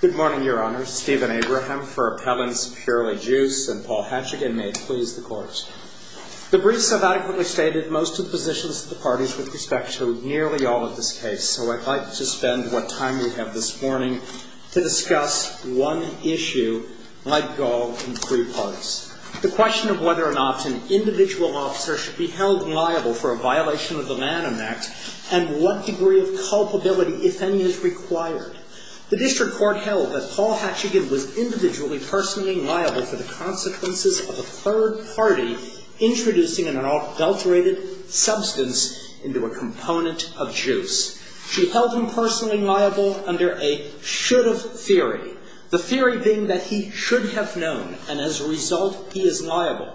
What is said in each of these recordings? Good morning, Your Honor. Stephen Abraham for Appellants, Purely Juice, and Paul Hatchigan. May it please the Court. The briefs have adequately stated most of the positions of the parties with respect to nearly all of this case, so I'd like to spend what time we have this morning to discuss one issue, my goal in three parts. The question of whether or not an individual officer should be held liable for a violation of the Lanham Act, and what degree of culpability, if any, is required. The District Court held that Paul Hatchigan was individually personally liable for the consequences of a third party introducing an adulterated substance into a component of juice. She held him personally liable under a should-have theory, the theory being that he should have known, and as a result, he is liable.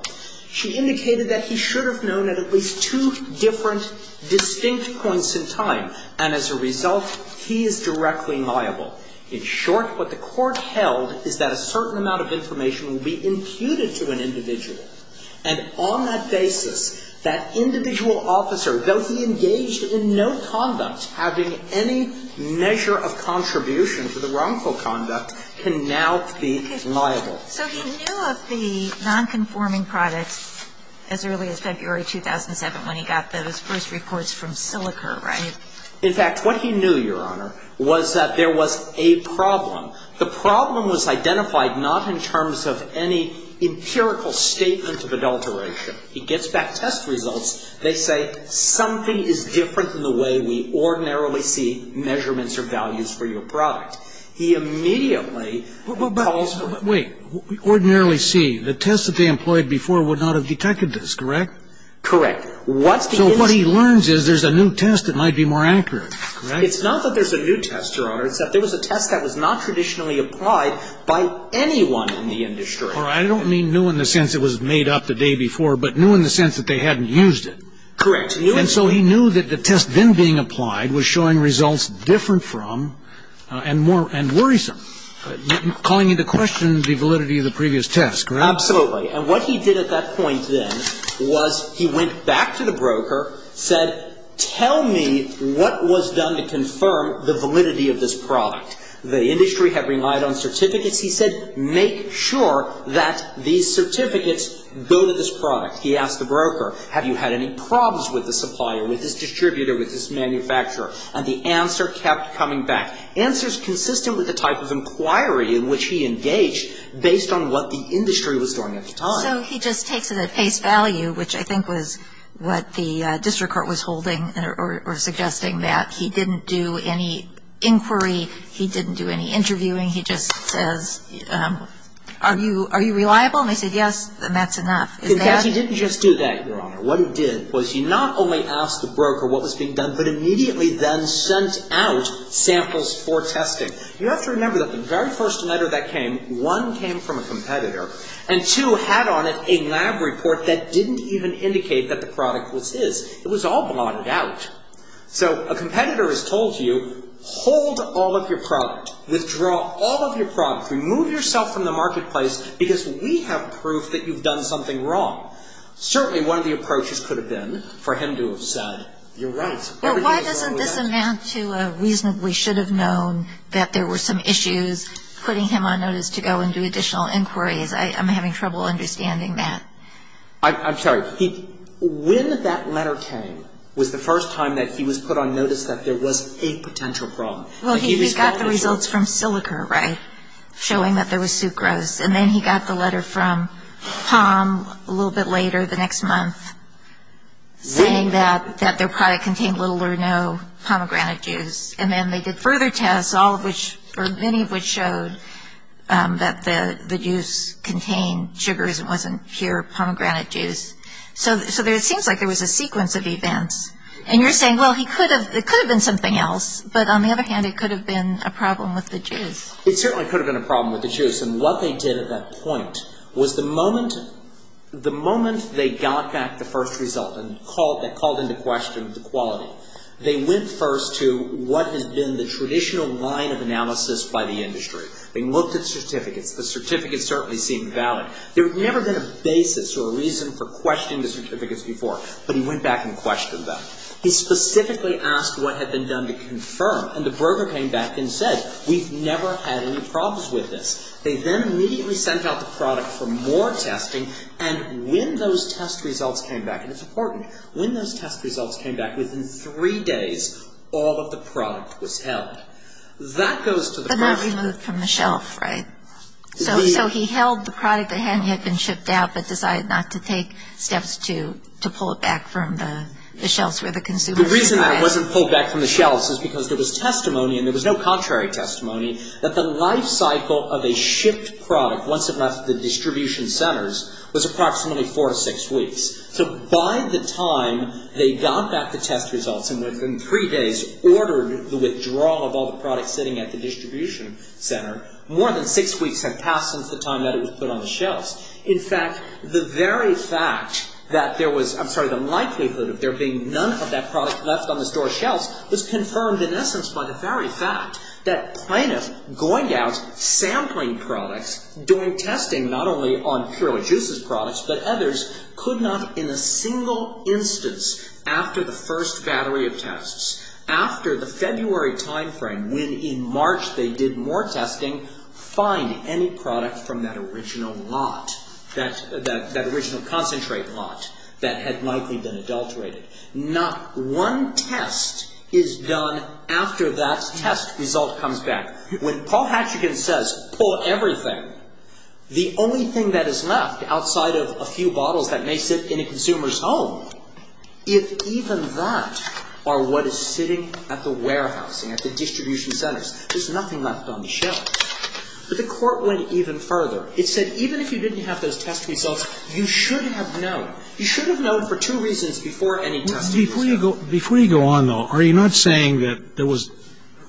She indicated that he is directly liable. In short, what the Court held is that a certain amount of information will be imputed to an individual, and on that basis, that individual officer, though he engaged in no conduct, having any measure of contribution to the wrongful conduct, can now be liable. So he knew of the nonconforming products as early as February 2007 when he got those first reports from Silica, right? In fact, what he knew, Your Honor, was that there was a problem. The problem was identified not in terms of any empirical statement of adulteration. He gets back test results. They say, something is different in the way we ordinarily see measurements or values for your product. He immediately calls for the ---- But wait. Ordinarily see? The test that they employed before would not have detected this, correct? Correct. What's the ---- What he learns is there's a new test that might be more accurate, correct? It's not that there's a new test, Your Honor. It's that there was a test that was not traditionally applied by anyone in the industry. Or I don't mean new in the sense it was made up the day before, but new in the sense that they hadn't used it. Correct. New in the sense ---- And so he knew that the test then being applied was showing results different from and more ---- and worrisome, calling into question the validity of the previous test, correct? Absolutely. And what he did at that point then was he went back to the broker, said, tell me what was done to confirm the validity of this product. The industry had relied on certificates. He said, make sure that these certificates go to this product. He asked the broker, have you had any problems with the supplier, with this distributor, with this manufacturer? And the answer kept coming back. Answers consistent with the type of So he just takes it at face value, which I think was what the district court was holding or suggesting that. He didn't do any inquiry. He didn't do any interviewing. He just says, are you reliable? And they said, yes, and that's enough. In fact, he didn't just do that, Your Honor. What he did was he not only asked the broker what was being done, but immediately then sent out samples for testing. You have to a lab report that didn't even indicate that the product was his. It was all blotted out. So a competitor has told you, hold all of your product. Withdraw all of your product. Remove yourself from the marketplace because we have proof that you've done something wrong. Certainly one of the approaches could have been for him to have said, you're right. Why doesn't this amount to a reason we should have known that there were some issues putting him on notice to go and do additional inquiries? I'm having trouble understanding that. I'm sorry. When that letter came was the first time that he was put on notice that there was a potential problem. Well, he got the results from silica, right? Showing that there was sucrose. And then he got the letter from Palm a little bit later the next month saying that their product contained little or no pomegranate juice. And then they did further tests, all of which or many of which showed that the juice contained sugars and wasn't pure pomegranate juice. So it seems like there was a sequence of events. And you're saying, well, it could have been something else. But on the other hand, it could have been a problem with the juice. It certainly could have been a problem with the juice. And what they did at that point was the moment they got back the first result and called into question the quality, they went first to what had been the traditional line of analysis by the industry. They looked at certificates. The certificates certainly seemed valid. There had never been a basis or a reason for questioning the certificates before. But he went back and questioned them. He specifically asked what had been done to confirm. And the broker came back and said, we've never had any problems with this. They then immediately sent out the product for more testing. And when those test results came back, and it's important, when those test results came back, within three days, all of the product was held. That goes to the question. But not removed from the shelf, right? So he held the product that had been shipped out, but decided not to take steps to pull it back from the shelves where the consumers were. The reason it wasn't pulled back from the shelves is because there was testimony, and there was no contrary testimony, that the life cycle of a shipped product, once it left the distribution centers, was approximately four to six weeks. So by the time they got back the test results and within three days ordered the withdrawal of all the product sitting at the distribution center, more than six weeks had passed since the time that it was put on the shelves. In fact, the very fact that there was, I'm sorry, the likelihood of there being none of that product left on the store shelves was confirmed in essence by the very fact that plaintiff going out, sampling products, doing testing not only on Pure Juice's products, but others, could not in a single instance, after the first battery of tests, after the February time frame, when in March they did more testing, find any product from that original lot, that original concentrate lot that had likely been adulterated. Not one test is done after that test result comes back. When Paul Hatchigan says, pull everything, the only thing that is left outside of a few bottles that may sit in a consumer's home, if even that are what is sitting at the warehousing, at the distribution centers, there's nothing left on the shelves. But the court went even further. It said, even if you didn't have those test results, you should have known. You should have known for two reasons before any testing was done. Before you go on though, are you not saying that there was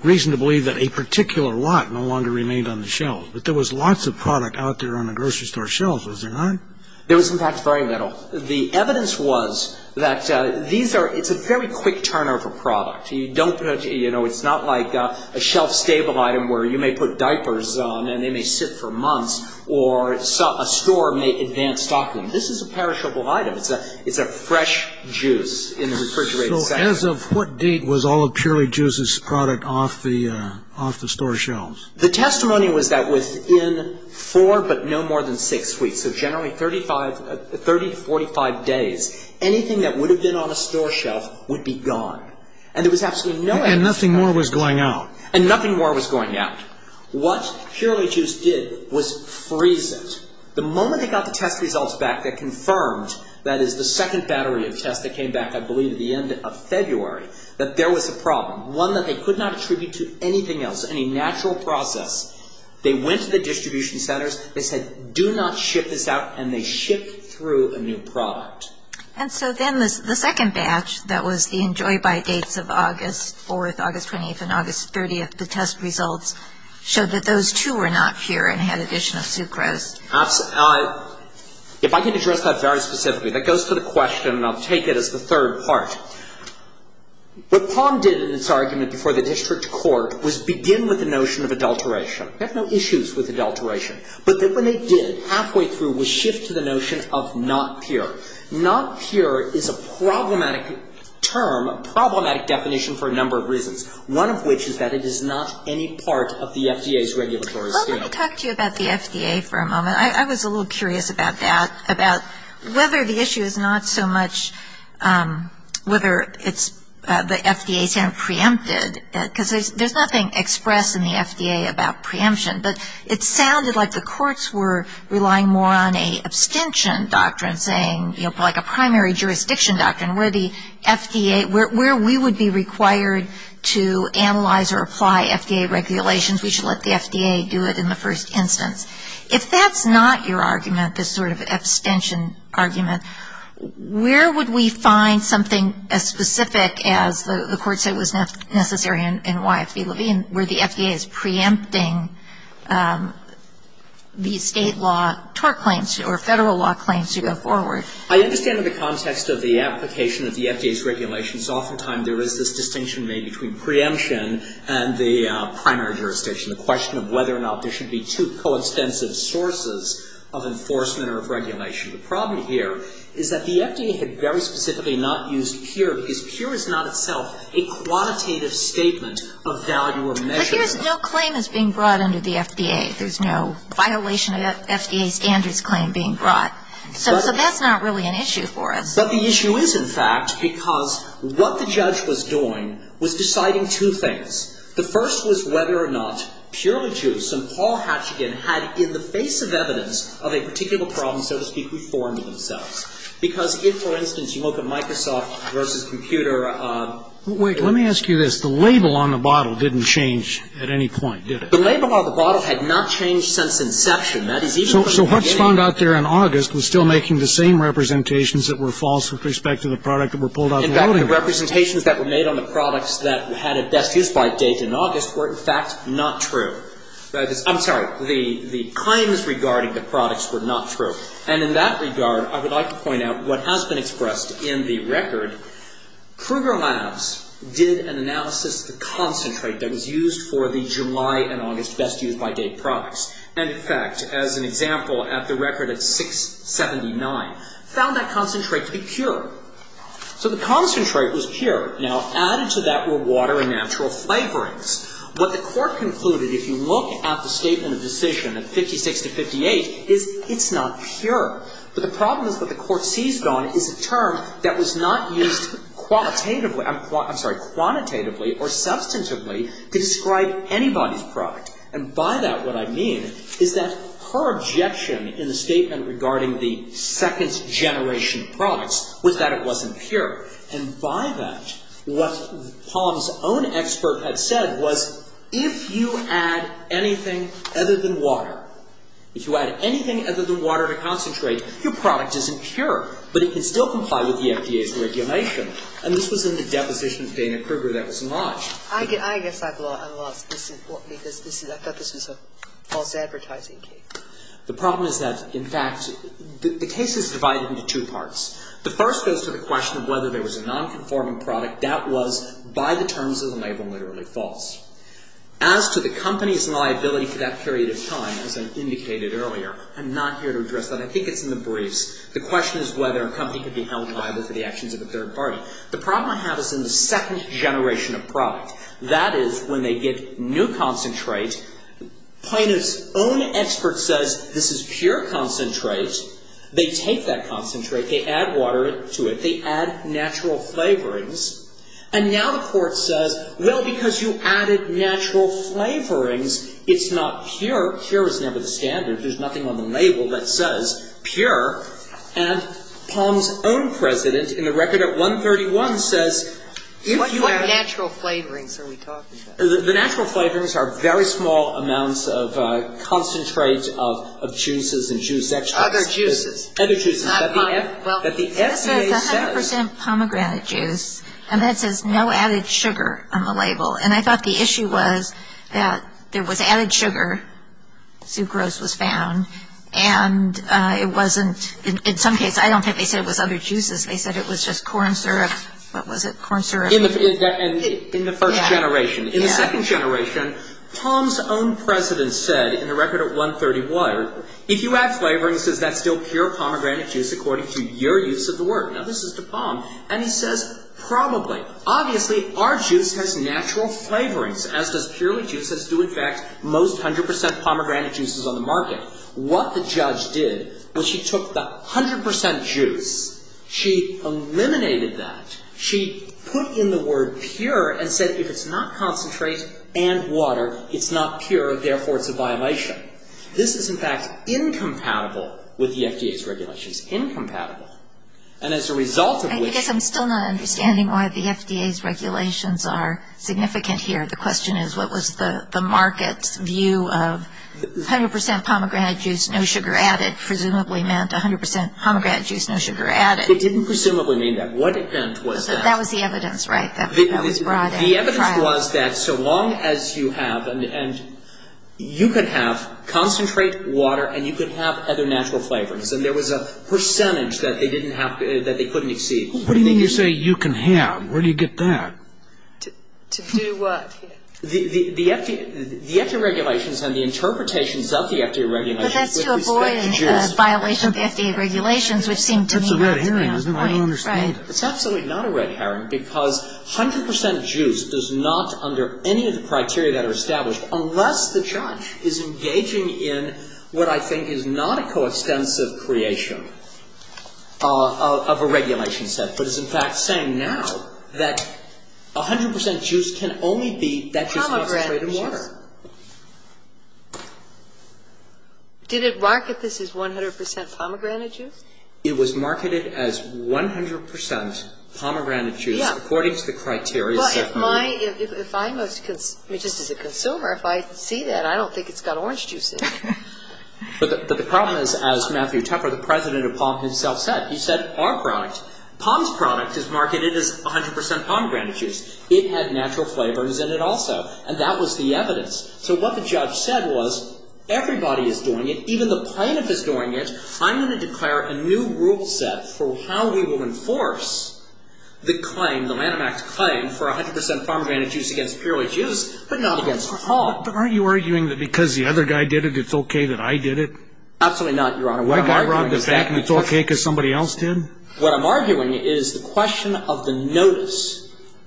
reason to believe that a particular lot no longer remained on the shelves? That there was lots of product out there on the grocery store shelves, was there not? There was in fact very little. The evidence was that these are, it's a very quick turn over product. You don't, you know, it's not like a shelf stable item where you may put This is a perishable item. It's a fresh juice in the refrigerator section. So as of what date was all of Purely Juice's product off the store shelves? The testimony was that within four but no more than six weeks, so generally 30 to 45 days, anything that would have been on a store shelf would be gone. And there was absolutely no evidence of that. And nothing more was going out. And nothing more was going out. What Purely Juice did was freeze it. The moment they got the test results back that confirmed, that is the second battery of tests that came back I believe at the end of February, that there was a problem. One that they could not attribute to anything else, any natural process. They went to the distribution centers. They said do not ship this out. And they shipped through a new product. And so then the second batch that was the enjoy-by dates of August 4th, August 28th and August 30th, the test results showed that those two were not pure and had additional sucrose. If I can address that very specifically, that goes to the question and I'll take it as the third part. What Palm did in its argument before the district court was begin with the notion of adulteration. They have no issues with adulteration. But then when they did halfway through was shift to the notion of not pure. Not pure is a problematic term, problematic definition for a number of reasons. One of which is that it is not any part of the FDA's regulatory scheme. Let me talk to you about the FDA for a moment. I was a little curious about that, about whether the issue is not so much whether it's the FDA is preempted. Because there's nothing expressed in the FDA about preemption. But it sounded like the courts were relying more on a abstention doctrine saying, you know, like a primary jurisdiction doctrine where the FDA, where we would be required to analyze or apply FDA regulations. We should let the If that's not your argument, this sort of abstention argument, where would we find something as specific as the court said was necessary in YFV-Levine where the FDA is preempting the state law tort claims or federal law claims to go forward? I understand in the context of the application of the FDA's regulations, oftentimes there is this distinction made between preemption and the primary jurisdiction. The question of whether or not there should be two co-extensive sources of enforcement or of regulation. The problem here is that the FDA had very specifically not used pure, because pure is not itself a quantitative statement of value or measure. But here's no claim is being brought under the FDA. There's no violation of FDA standards claim being brought. So that's not really an issue for us. But the issue is, in fact, because what the judge was doing was deciding two things. The first was whether or not purely juice and Paul Hatchigan had in the face of evidence of a particular problem, so to speak, reformed themselves. Because if, for instance, you look at Microsoft versus computer Wait, let me ask you this. The label on the bottle didn't change at any point, did it? The label on the bottle had not changed since inception. So what's found out there in August was still making the same representations that were false with respect to the product that were pulled out of the loading room. The representations that were made on the products that had a best use by date in August were, in fact, not true. I'm sorry. The claims regarding the products were not true. And in that regard, I would like to point out what has been expressed in the record. Kruger Labs did an analysis of the concentrate that was used for the July and August best use by date products. And, in fact, as an example, at the record at 679, found that concentrate to be pure. So the concentrate was pure. Now, added to that were water and natural flavorings. What the Court concluded, if you look at the statement of decision at 56 to 58, is it's not pure. But the problem is what the Court seized on is a term that was not used qualitatively, I'm sorry, quantitatively or substantively to describe anybody's product. And by that, what I mean is that her objection in the statement regarding the second-generation products was that it wasn't pure. And by that, what Palm's own expert had said was, if you add anything other than water, if you add anything other than water to concentrate, your product isn't pure. But it can still comply with the FDA's regulation. And this was in the deposition of Dana Kruger that was lodged. I guess I've lost, because I thought this was a false advertising case. The problem is that, in fact, the case is divided into two parts. The first goes to the question of whether there was a nonconforming product. That was, by the terms of the label, literally false. As to the company's liability for that period of time, as I indicated earlier, I'm not here to address that. I think it's in the briefs. The question is whether a company could be held liable for the actions of a third party. The problem I have is in the second-generation of product. That is, when they get new concentrate, Plano's own expert says, this is pure concentrate. They take that concentrate. They add water to it. They add natural flavorings. And now the court says, well, because you added natural flavorings, it's not pure. Pure is never the standard. There's nothing on the label that says pure. And Palm's own president, in the record at 131, says if you add... What natural flavorings are we talking about? The natural flavorings are very small amounts of concentrate of juices and juice extracts. Other juices. Other juices. Well, this says 100% pomegranate juice, and that says no added sugar on the label. And I thought the issue was that there was added sugar, sucrose was found, and it wasn't... In some cases, I don't think they said it was other juices. They said it was just corn syrup. What was it? Corn syrup. In the first generation. Yeah. In the second generation, Palm's own president said, in the record at 131, if you add flavorings, is that still pure pomegranate juice according to your use of the word? Now, this is to Palm. And he says, probably. Obviously, our juice has natural flavorings, as does purely juice, as do, in fact, most 100% pomegranate juices on the market. What the judge did was she took the 100% juice, she eliminated that, she put in the word pure and said if it's not concentrate and water, it's not pure, therefore it's a violation. This is, in fact, incompatible with the FDA's regulations. Incompatible. And as a result of which... I guess I'm still not understanding why the FDA's regulations are significant here. The question is what was the market's view of 100% pomegranate juice, no sugar added, presumably meant 100% pomegranate juice, no sugar added. It didn't presumably mean that. What it meant was that... That was the evidence, right? That was brought out prior... The evidence was that so long as you have, and you could have concentrate, water, and you could have other natural flavorings. And there was a percentage that they couldn't exceed. What do you mean you say you can have? Where do you get that? To do what here? The FDA regulations and the interpretations of the FDA regulations... But that's to avoid a violation of the FDA regulations, which seemed to me... That's a red herring, isn't it? I don't understand. It's absolutely not a red herring, because 100% juice does not, under any of the criteria that are established, unless the judge is engaging in what I think is not a coextensive creation of a regulation set, but is in fact saying now that 100% juice can only be... Pomegranate juice. Did it market this as 100% pomegranate juice? It was marketed as 100% pomegranate juice according to the criteria set by... Well, if I, just as a consumer, if I see that, I don't think it's got orange juice in it. But the problem is, as Matthew Tepper, the president of Palm himself said, he said, our product, Palm's product is marketed as 100% pomegranate juice. It had natural flavors in it also, and that was the evidence. So what the judge said was, everybody is doing it, even the plaintiff is doing it. I'm going to declare a new rule set for how we will enforce the claim, the Lanham Act claim for 100% pomegranate juice against purely juice, but not against POM. But aren't you arguing that because the other guy did it, it's okay that I did it? Absolutely not, Your Honor. What I'm arguing is that it's okay because somebody else did? What I'm arguing is the question of the notice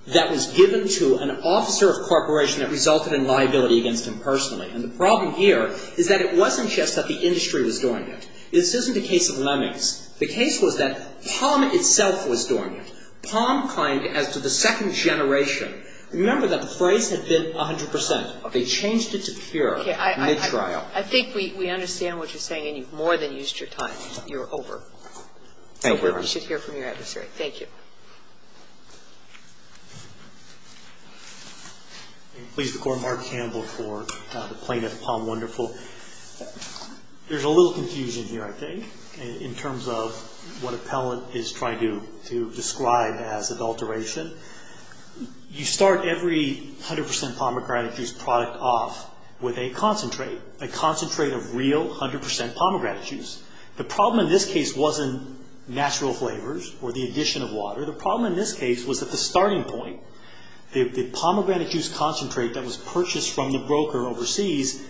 that was given to an officer of corporation that resulted in liability against him personally. And the problem here is that it wasn't just that the industry was doing it. This isn't a case of lemmings. The case was that POM itself was doing it. POM claimed as to the second generation. Remember that the phrase had been 100%. They changed it to pure mid-trial. I think we understand what you're saying, and you've more than used your time. You're over. Thank you, Your Honor. So we should hear from your adversary. Thank you. Please record Mark Campbell for the plaintiff, POM Wonderful. There's a little confusion here, I think, in terms of what appellant is trying to describe as adulteration. You start every 100% pomegranate juice product off with a concentrate, a concentrate of real 100% pomegranate juice. The problem in this case wasn't natural flavors or the addition of water. The problem in this case was that the starting point, the pomegranate juice concentrate that was purchased from the broker overseas,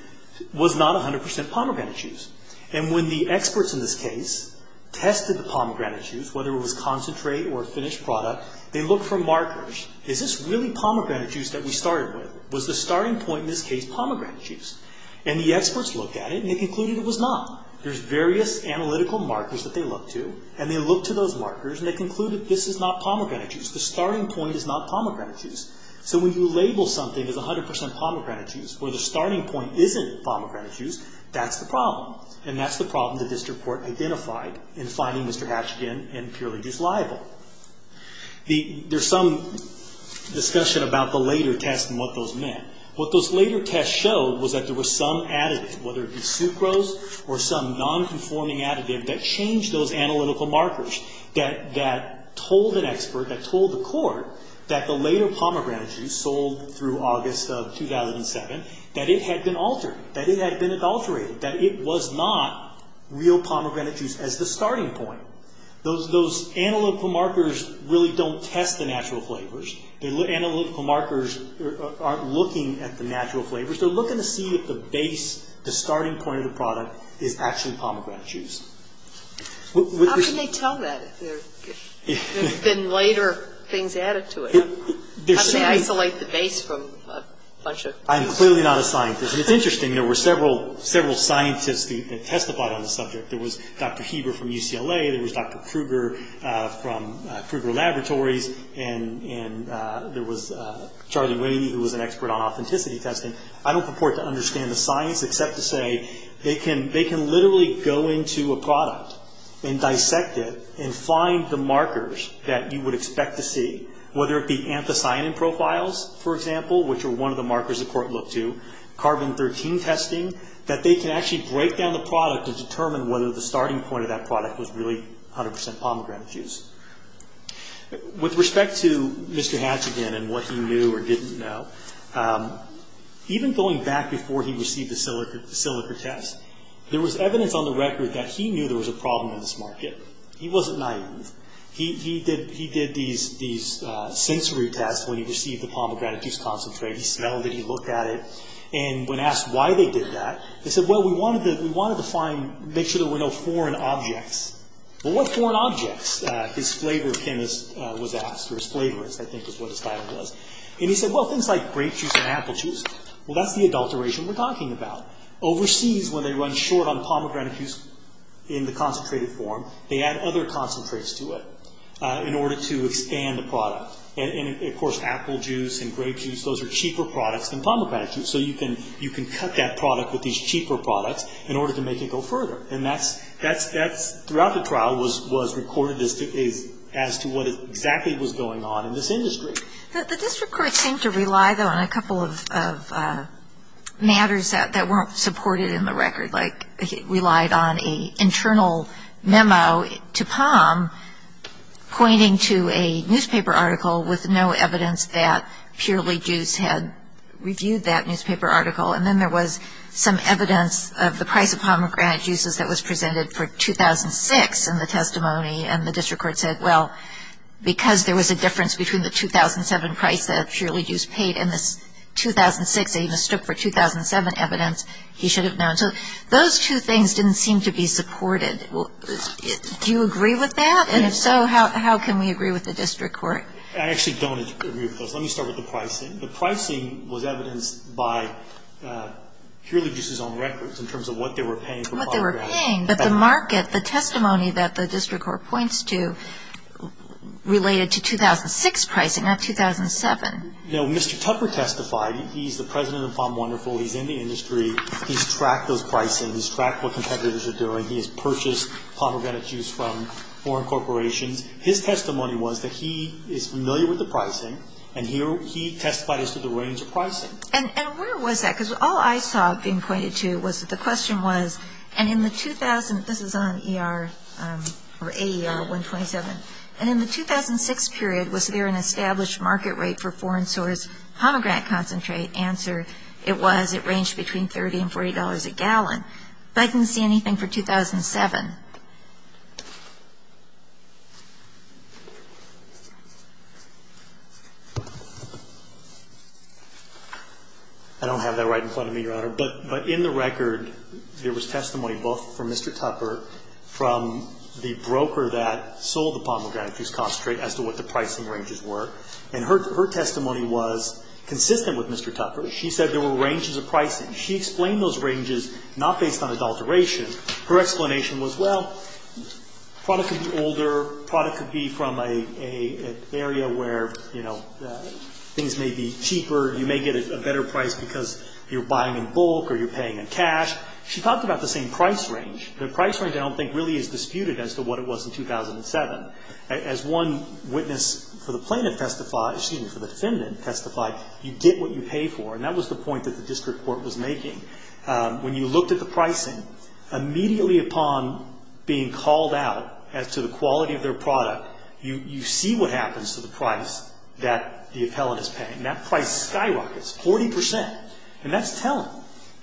was not 100% pomegranate juice. And when the experts in this case tested the pomegranate juice, whether it was concentrate or a finished product, they looked for markers. Is this really pomegranate juice that we started with? Was the starting point in this case pomegranate juice? And the experts looked at it, and they concluded it was not. There's various analytical markers that they looked to, and they looked to those markers, and they concluded this is not pomegranate juice. The starting point is not pomegranate juice. So when you label something as 100% pomegranate juice where the starting point isn't pomegranate juice, that's the problem. And that's the problem that this report identified in finding Mr. Hatch again and purely disliable. There's some discussion about the later test and what those meant. What those later tests showed was that there was some additive, whether it be sucrose or some nonconforming additive, that changed those analytical markers, that told an expert, that told the court, that the later pomegranate juice sold through August of 2007, that it had been altered, that it had been adulterated, that it was not real pomegranate juice as the starting point. Those analytical markers really don't test the natural flavors. The analytical markers aren't looking at the natural flavors. They're looking to see if the base, the starting point of the product, is actually pomegranate juice. How can they tell that if there have been later things added to it? How do they isolate the base from a bunch of... I'm clearly not a scientist. It's interesting. There were several scientists that testified on the subject. There was Dr. Heber from UCLA. There was Dr. Kruger from Kruger Laboratories. And there was Charlie Winnie, who was an expert on authenticity testing. I don't purport to understand the science, except to say, they can literally go into a product and dissect it and find the markers that you would expect to see, whether it be anthocyanin profiles, for example, which are one of the markers the court looked to, carbon-13 testing, that they can actually break down the product and determine whether the starting point of that product was really 100% pomegranate juice. With respect to Mr. Hatch again and what he knew or didn't know, even going back before he received the silica test, there was evidence on the record that he knew there was a problem in this market. He wasn't naive. He did these sensory tests when he received the pomegranate juice concentrate. He smelled it. And when asked why they did that, they said, well, we wanted to make sure there were no foreign objects. Well, what foreign objects, his flavor chemist was asked, or his flavorist, I think is what his title does. And he said, well, things like grape juice and apple juice. Well, that's the adulteration we're talking about. Overseas, when they run short on pomegranate juice in the concentrated form, they add other concentrates to it in order to expand the product. And, of course, apple juice and grape juice, those are cheaper products than pomegranate juice. So you can cut that product with these cheaper products in order to make it go further. And that, throughout the trial, was recorded as to what exactly was going on in this industry. The district court seemed to rely, though, on a couple of matters that weren't supported in the record. Like it relied on an internal memo to POM pointing to a newspaper article with no evidence that Purely Juice had reviewed that newspaper article. And then there was some evidence of the price of pomegranate juices that was presented for 2006 in the testimony. And the district court said, well, because there was a difference between the 2007 price that Purely Juice paid and the 2006, they even stood for 2007 evidence, he should have known. So those two things didn't seem to be supported. Do you agree with that? And if so, how can we agree with the district court? I actually don't agree with those. Let me start with the pricing. The pricing was evidenced by Purely Juice's own records in terms of what they were paying for pomegranate. What they were paying, but the market, the testimony that the district court points to related to 2006 pricing, not 2007. You know, Mr. Tupper testified. He's the president of POM Wonderful. He's in the industry. He's tracked those pricings. He's tracked what competitors are doing. He has purchased pomegranate juice from foreign corporations. His testimony was that he is familiar with the pricing. And he testified as to the range of pricing. And where was that? Because all I saw being pointed to was that the question was, and in the 2000, this is on AER 127. And in the 2006 period, was there an established market rate for foreign source pomegranate concentrate? Answer, it was. It ranged between $30 and $40 a gallon. But I didn't see anything for 2007. I don't have that right in front of me, Your Honor. But in the record, there was testimony both from Mr. Tupper, from the broker that sold the pomegranate juice concentrate, as to what the pricing ranges were. And her testimony was consistent with Mr. Tupper. She said there were ranges of pricing. She explained those ranges not based on adulteration. Her explanation was, well, product could be older. Product could be from an area where, you know, things may be cheaper. You may get a better price because you're buying in bulk or you're paying in cash. She talked about the same price range. The price range, I don't think, really is disputed as to what it was in 2007. As one witness for the plaintiff testified, excuse me, for the defendant testified, you get what you pay for. And that was the point that the district court was making. When you looked at the pricing, immediately upon being called out as to the quality of their product, you see what happens to the price that the appellant is paying. That price skyrockets 40%. And that's telling.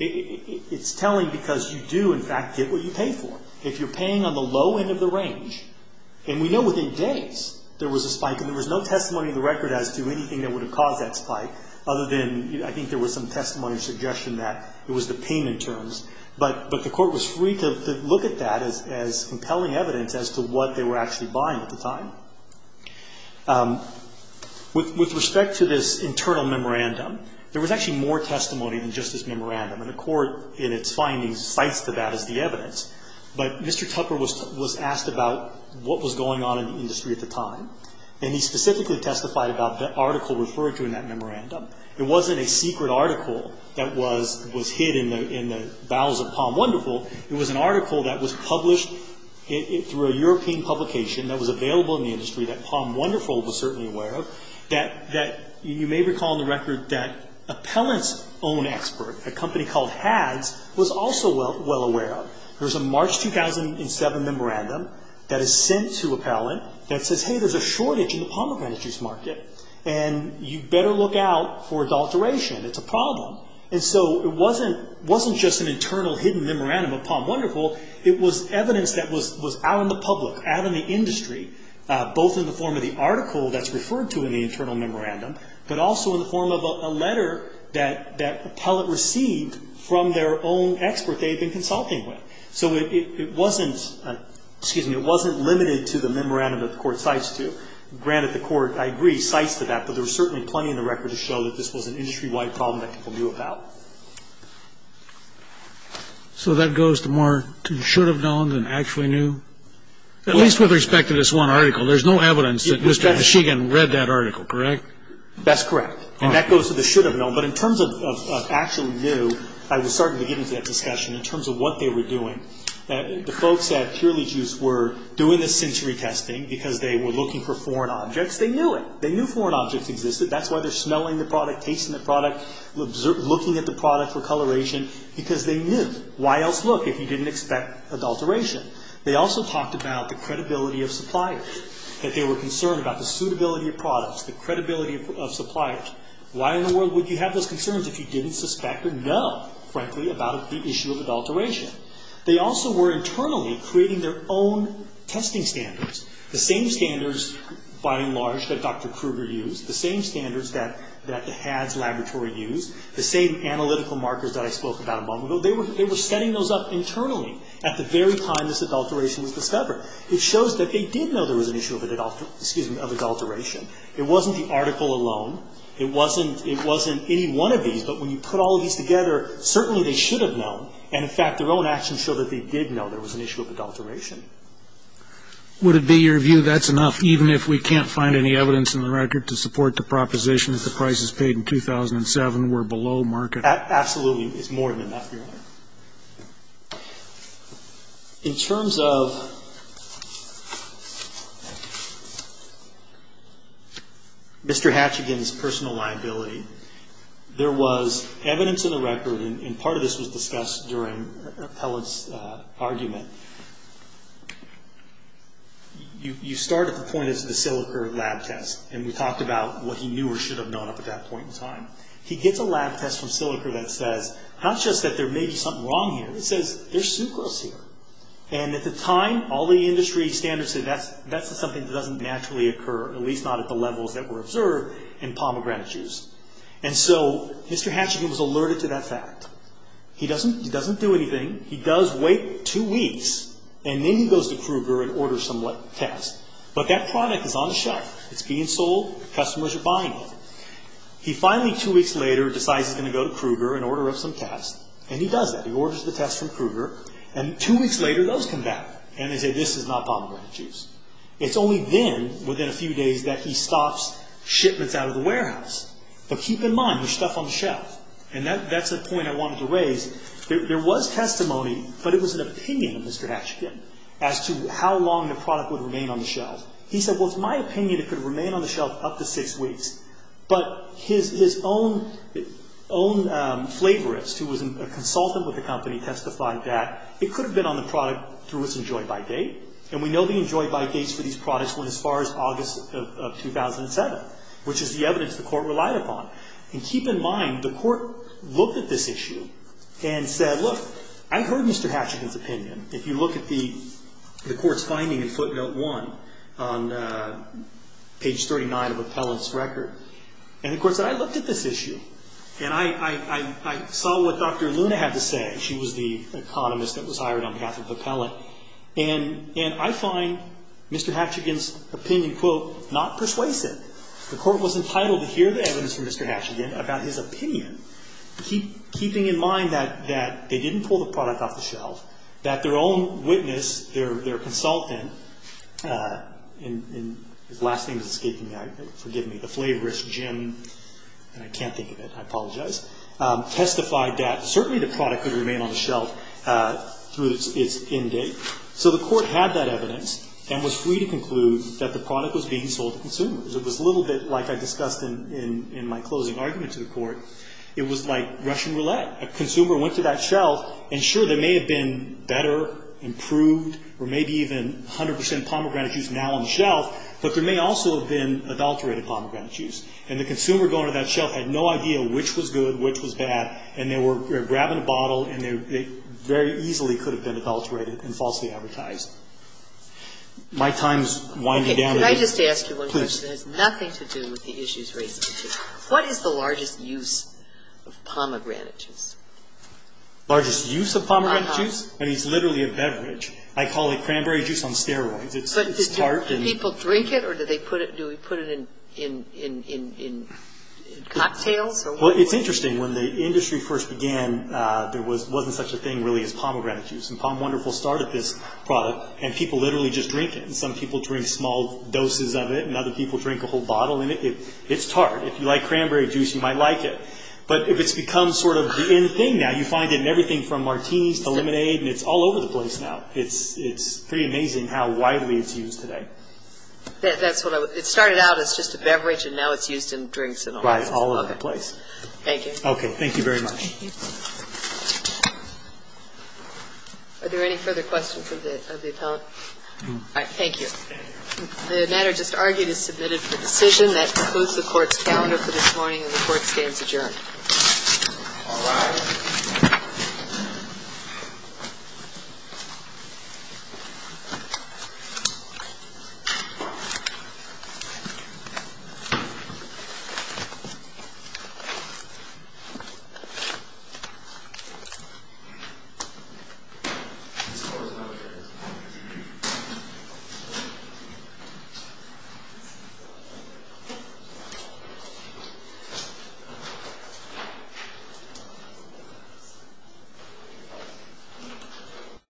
It's telling because you do, in fact, get what you pay for. If you're paying on the low end of the range, and we know within days there was a spike, and there was no testimony in the record as to anything that would have caused that spike, other than I think there was some testimony or suggestion that it was the payment terms. But the court was free to look at that as compelling evidence as to what they were actually buying at the time. With respect to this internal memorandum, there was actually more testimony than just this memorandum. And the court, in its findings, cites to that as the evidence. But Mr. Tupper was asked about what was going on in the industry at the time. And he specifically testified about the article referred to in that memorandum. It wasn't a secret article that was hidden in the bowels of Palm Wonderful. It was an article that was published through a European publication that was available in the industry that Palm Wonderful was certainly aware of, that you may recall in the record that appellant's own expert, a company called HADS, was also well aware of. There's a March 2007 memorandum that is sent to appellant that says, hey, there's a shortage in the pomegranate juice market, and you'd better look out for adulteration. It's a problem. And so it wasn't just an internal hidden memorandum of Palm Wonderful. It was evidence that was out in the public, out in the industry, both in the form of the article that's referred to in the internal memorandum, but also in the form of a letter that appellant received from their own expert they had been consulting with. So it wasn't limited to the memorandum that the court cites to. Granted, the court, I agree, cites to that, but there was certainly plenty in the record to show that this was an industry-wide problem that people knew about. So that goes to more to should have known than actually knew? At least with respect to this one article. There's no evidence that Mr. Sheegan read that article, correct? That's correct. And that goes to the should have known. But in terms of actually knew, I was starting to get into that discussion in terms of what they were doing. The folks at Purely Juice were doing this century testing because they were looking for foreign objects. They knew it. They knew foreign objects existed. That's why they're smelling the product, tasting the product, looking at the product for coloration, because they knew. Why else look if you didn't expect adulteration? They also talked about the credibility of suppliers, that they were concerned about the suitability of products, the credibility of suppliers. Why in the world would you have those concerns if you didn't suspect or know, frankly, about the issue of adulteration? They also were internally creating their own testing standards, the same standards, by and large, that Dr. Kruger used, the same standards that the Hadds Laboratory used, the same analytical markers that I spoke about a moment ago. They were setting those up internally at the very time this adulteration was discovered. It shows that they did know there was an issue of adulteration. It wasn't the article alone. It wasn't any one of these. But when you put all of these together, certainly they should have known. And, in fact, their own actions show that they did know there was an issue of adulteration. Would it be your view that's enough, even if we can't find any evidence in the record, to support the proposition that the prices paid in 2007 were below market? Absolutely. It's more than that, Your Honor. In terms of Mr. Hatchigan's personal liability, there was evidence in the record, and part of this was discussed during the appellate's argument. You start at the point of the silica lab test, and we talked about what he knew or should have known up to that point in time. He gets a lab test from silica that says not just that there may be something wrong here. It says there's sucrose here. And at the time, all the industry standards said that's something that doesn't naturally occur, at least not at the levels that were observed in pomegranate juice. And so Mr. Hatchigan was alerted to that fact. He doesn't do anything. He does wait two weeks, and then he goes to Kruger and orders some tests. But that product is on the shelf. It's being sold. Customers are buying it. He finally, two weeks later, decides he's going to go to Kruger and order up some tests, and he does that. He orders the tests from Kruger, and two weeks later those come back, and they say this is not pomegranate juice. It's only then, within a few days, that he stops shipments out of the warehouse. But keep in mind, there's stuff on the shelf. And that's the point I wanted to raise. There was testimony, but it was an opinion of Mr. Hatchigan as to how long the product would remain on the shelf. He said, well, it's my opinion it could remain on the shelf up to six weeks. But his own flavorist, who was a consultant with the company, testified that it could have been on the product through its enjoy-by date. And we know the enjoy-by dates for these products went as far as August of 2007, which is the evidence the court relied upon. And keep in mind, the court looked at this issue and said, look, I heard Mr. Hatchigan's opinion. If you look at the court's finding in footnote one on page 39 of Appellant's record, and the court said, I looked at this issue, and I saw what Dr. Luna had to say. She was the economist that was hired on behalf of Appellant. And I find Mr. Hatchigan's opinion, quote, not persuasive. The court was entitled to hear the evidence from Mr. Hatchigan about his opinion, keeping in mind that they didn't pull the product off the shelf, that their own witness, their consultant, and his last name is escaping me, forgive me, the flavorist, Jim, and I can't think of it, I apologize, testified that certainly the product could remain on the shelf through its end date. So the court had that evidence and was free to conclude that the product was being sold to consumers. It was a little bit like I discussed in my closing argument to the court. It was like Russian roulette. A consumer went to that shelf, and sure, there may have been better, improved, or maybe even 100 percent pomegranate juice now on the shelf, but there may also have been adulterated pomegranate juice. And the consumer going to that shelf had no idea which was good, which was bad, and they were grabbing a bottle, and they very easily could have been adulterated and falsely advertised. My time is winding down. Can I just ask you one question? Please. It has nothing to do with the issues raised. What is the largest use of pomegranate juice? Largest use of pomegranate juice? I mean, it's literally a beverage. I call it cranberry juice on steroids. It's tart. But do people drink it, or do they put it in cocktails? Well, it's interesting. When the industry first began, there wasn't such a thing really as pomegranate juice. And POM Wonderful started this product, and people literally just drink it. And some people drink small doses of it, and other people drink a whole bottle of it. It's tart. If you like cranberry juice, you might like it. But if it's become sort of the in thing now, you find it in everything from martinis to lemonade, and it's all over the place now. It's pretty amazing how widely it's used today. It started out as just a beverage, and now it's used in drinks and all that. Right. All over the place. Thank you. Okay. Thank you very much. Thank you. Are there any further questions of the Attoll? No. All right. Thank you. The matter just argued is submitted for decision. That concludes the Court's calendar for this morning, and the Court stands adjourned. All rise. Thank you.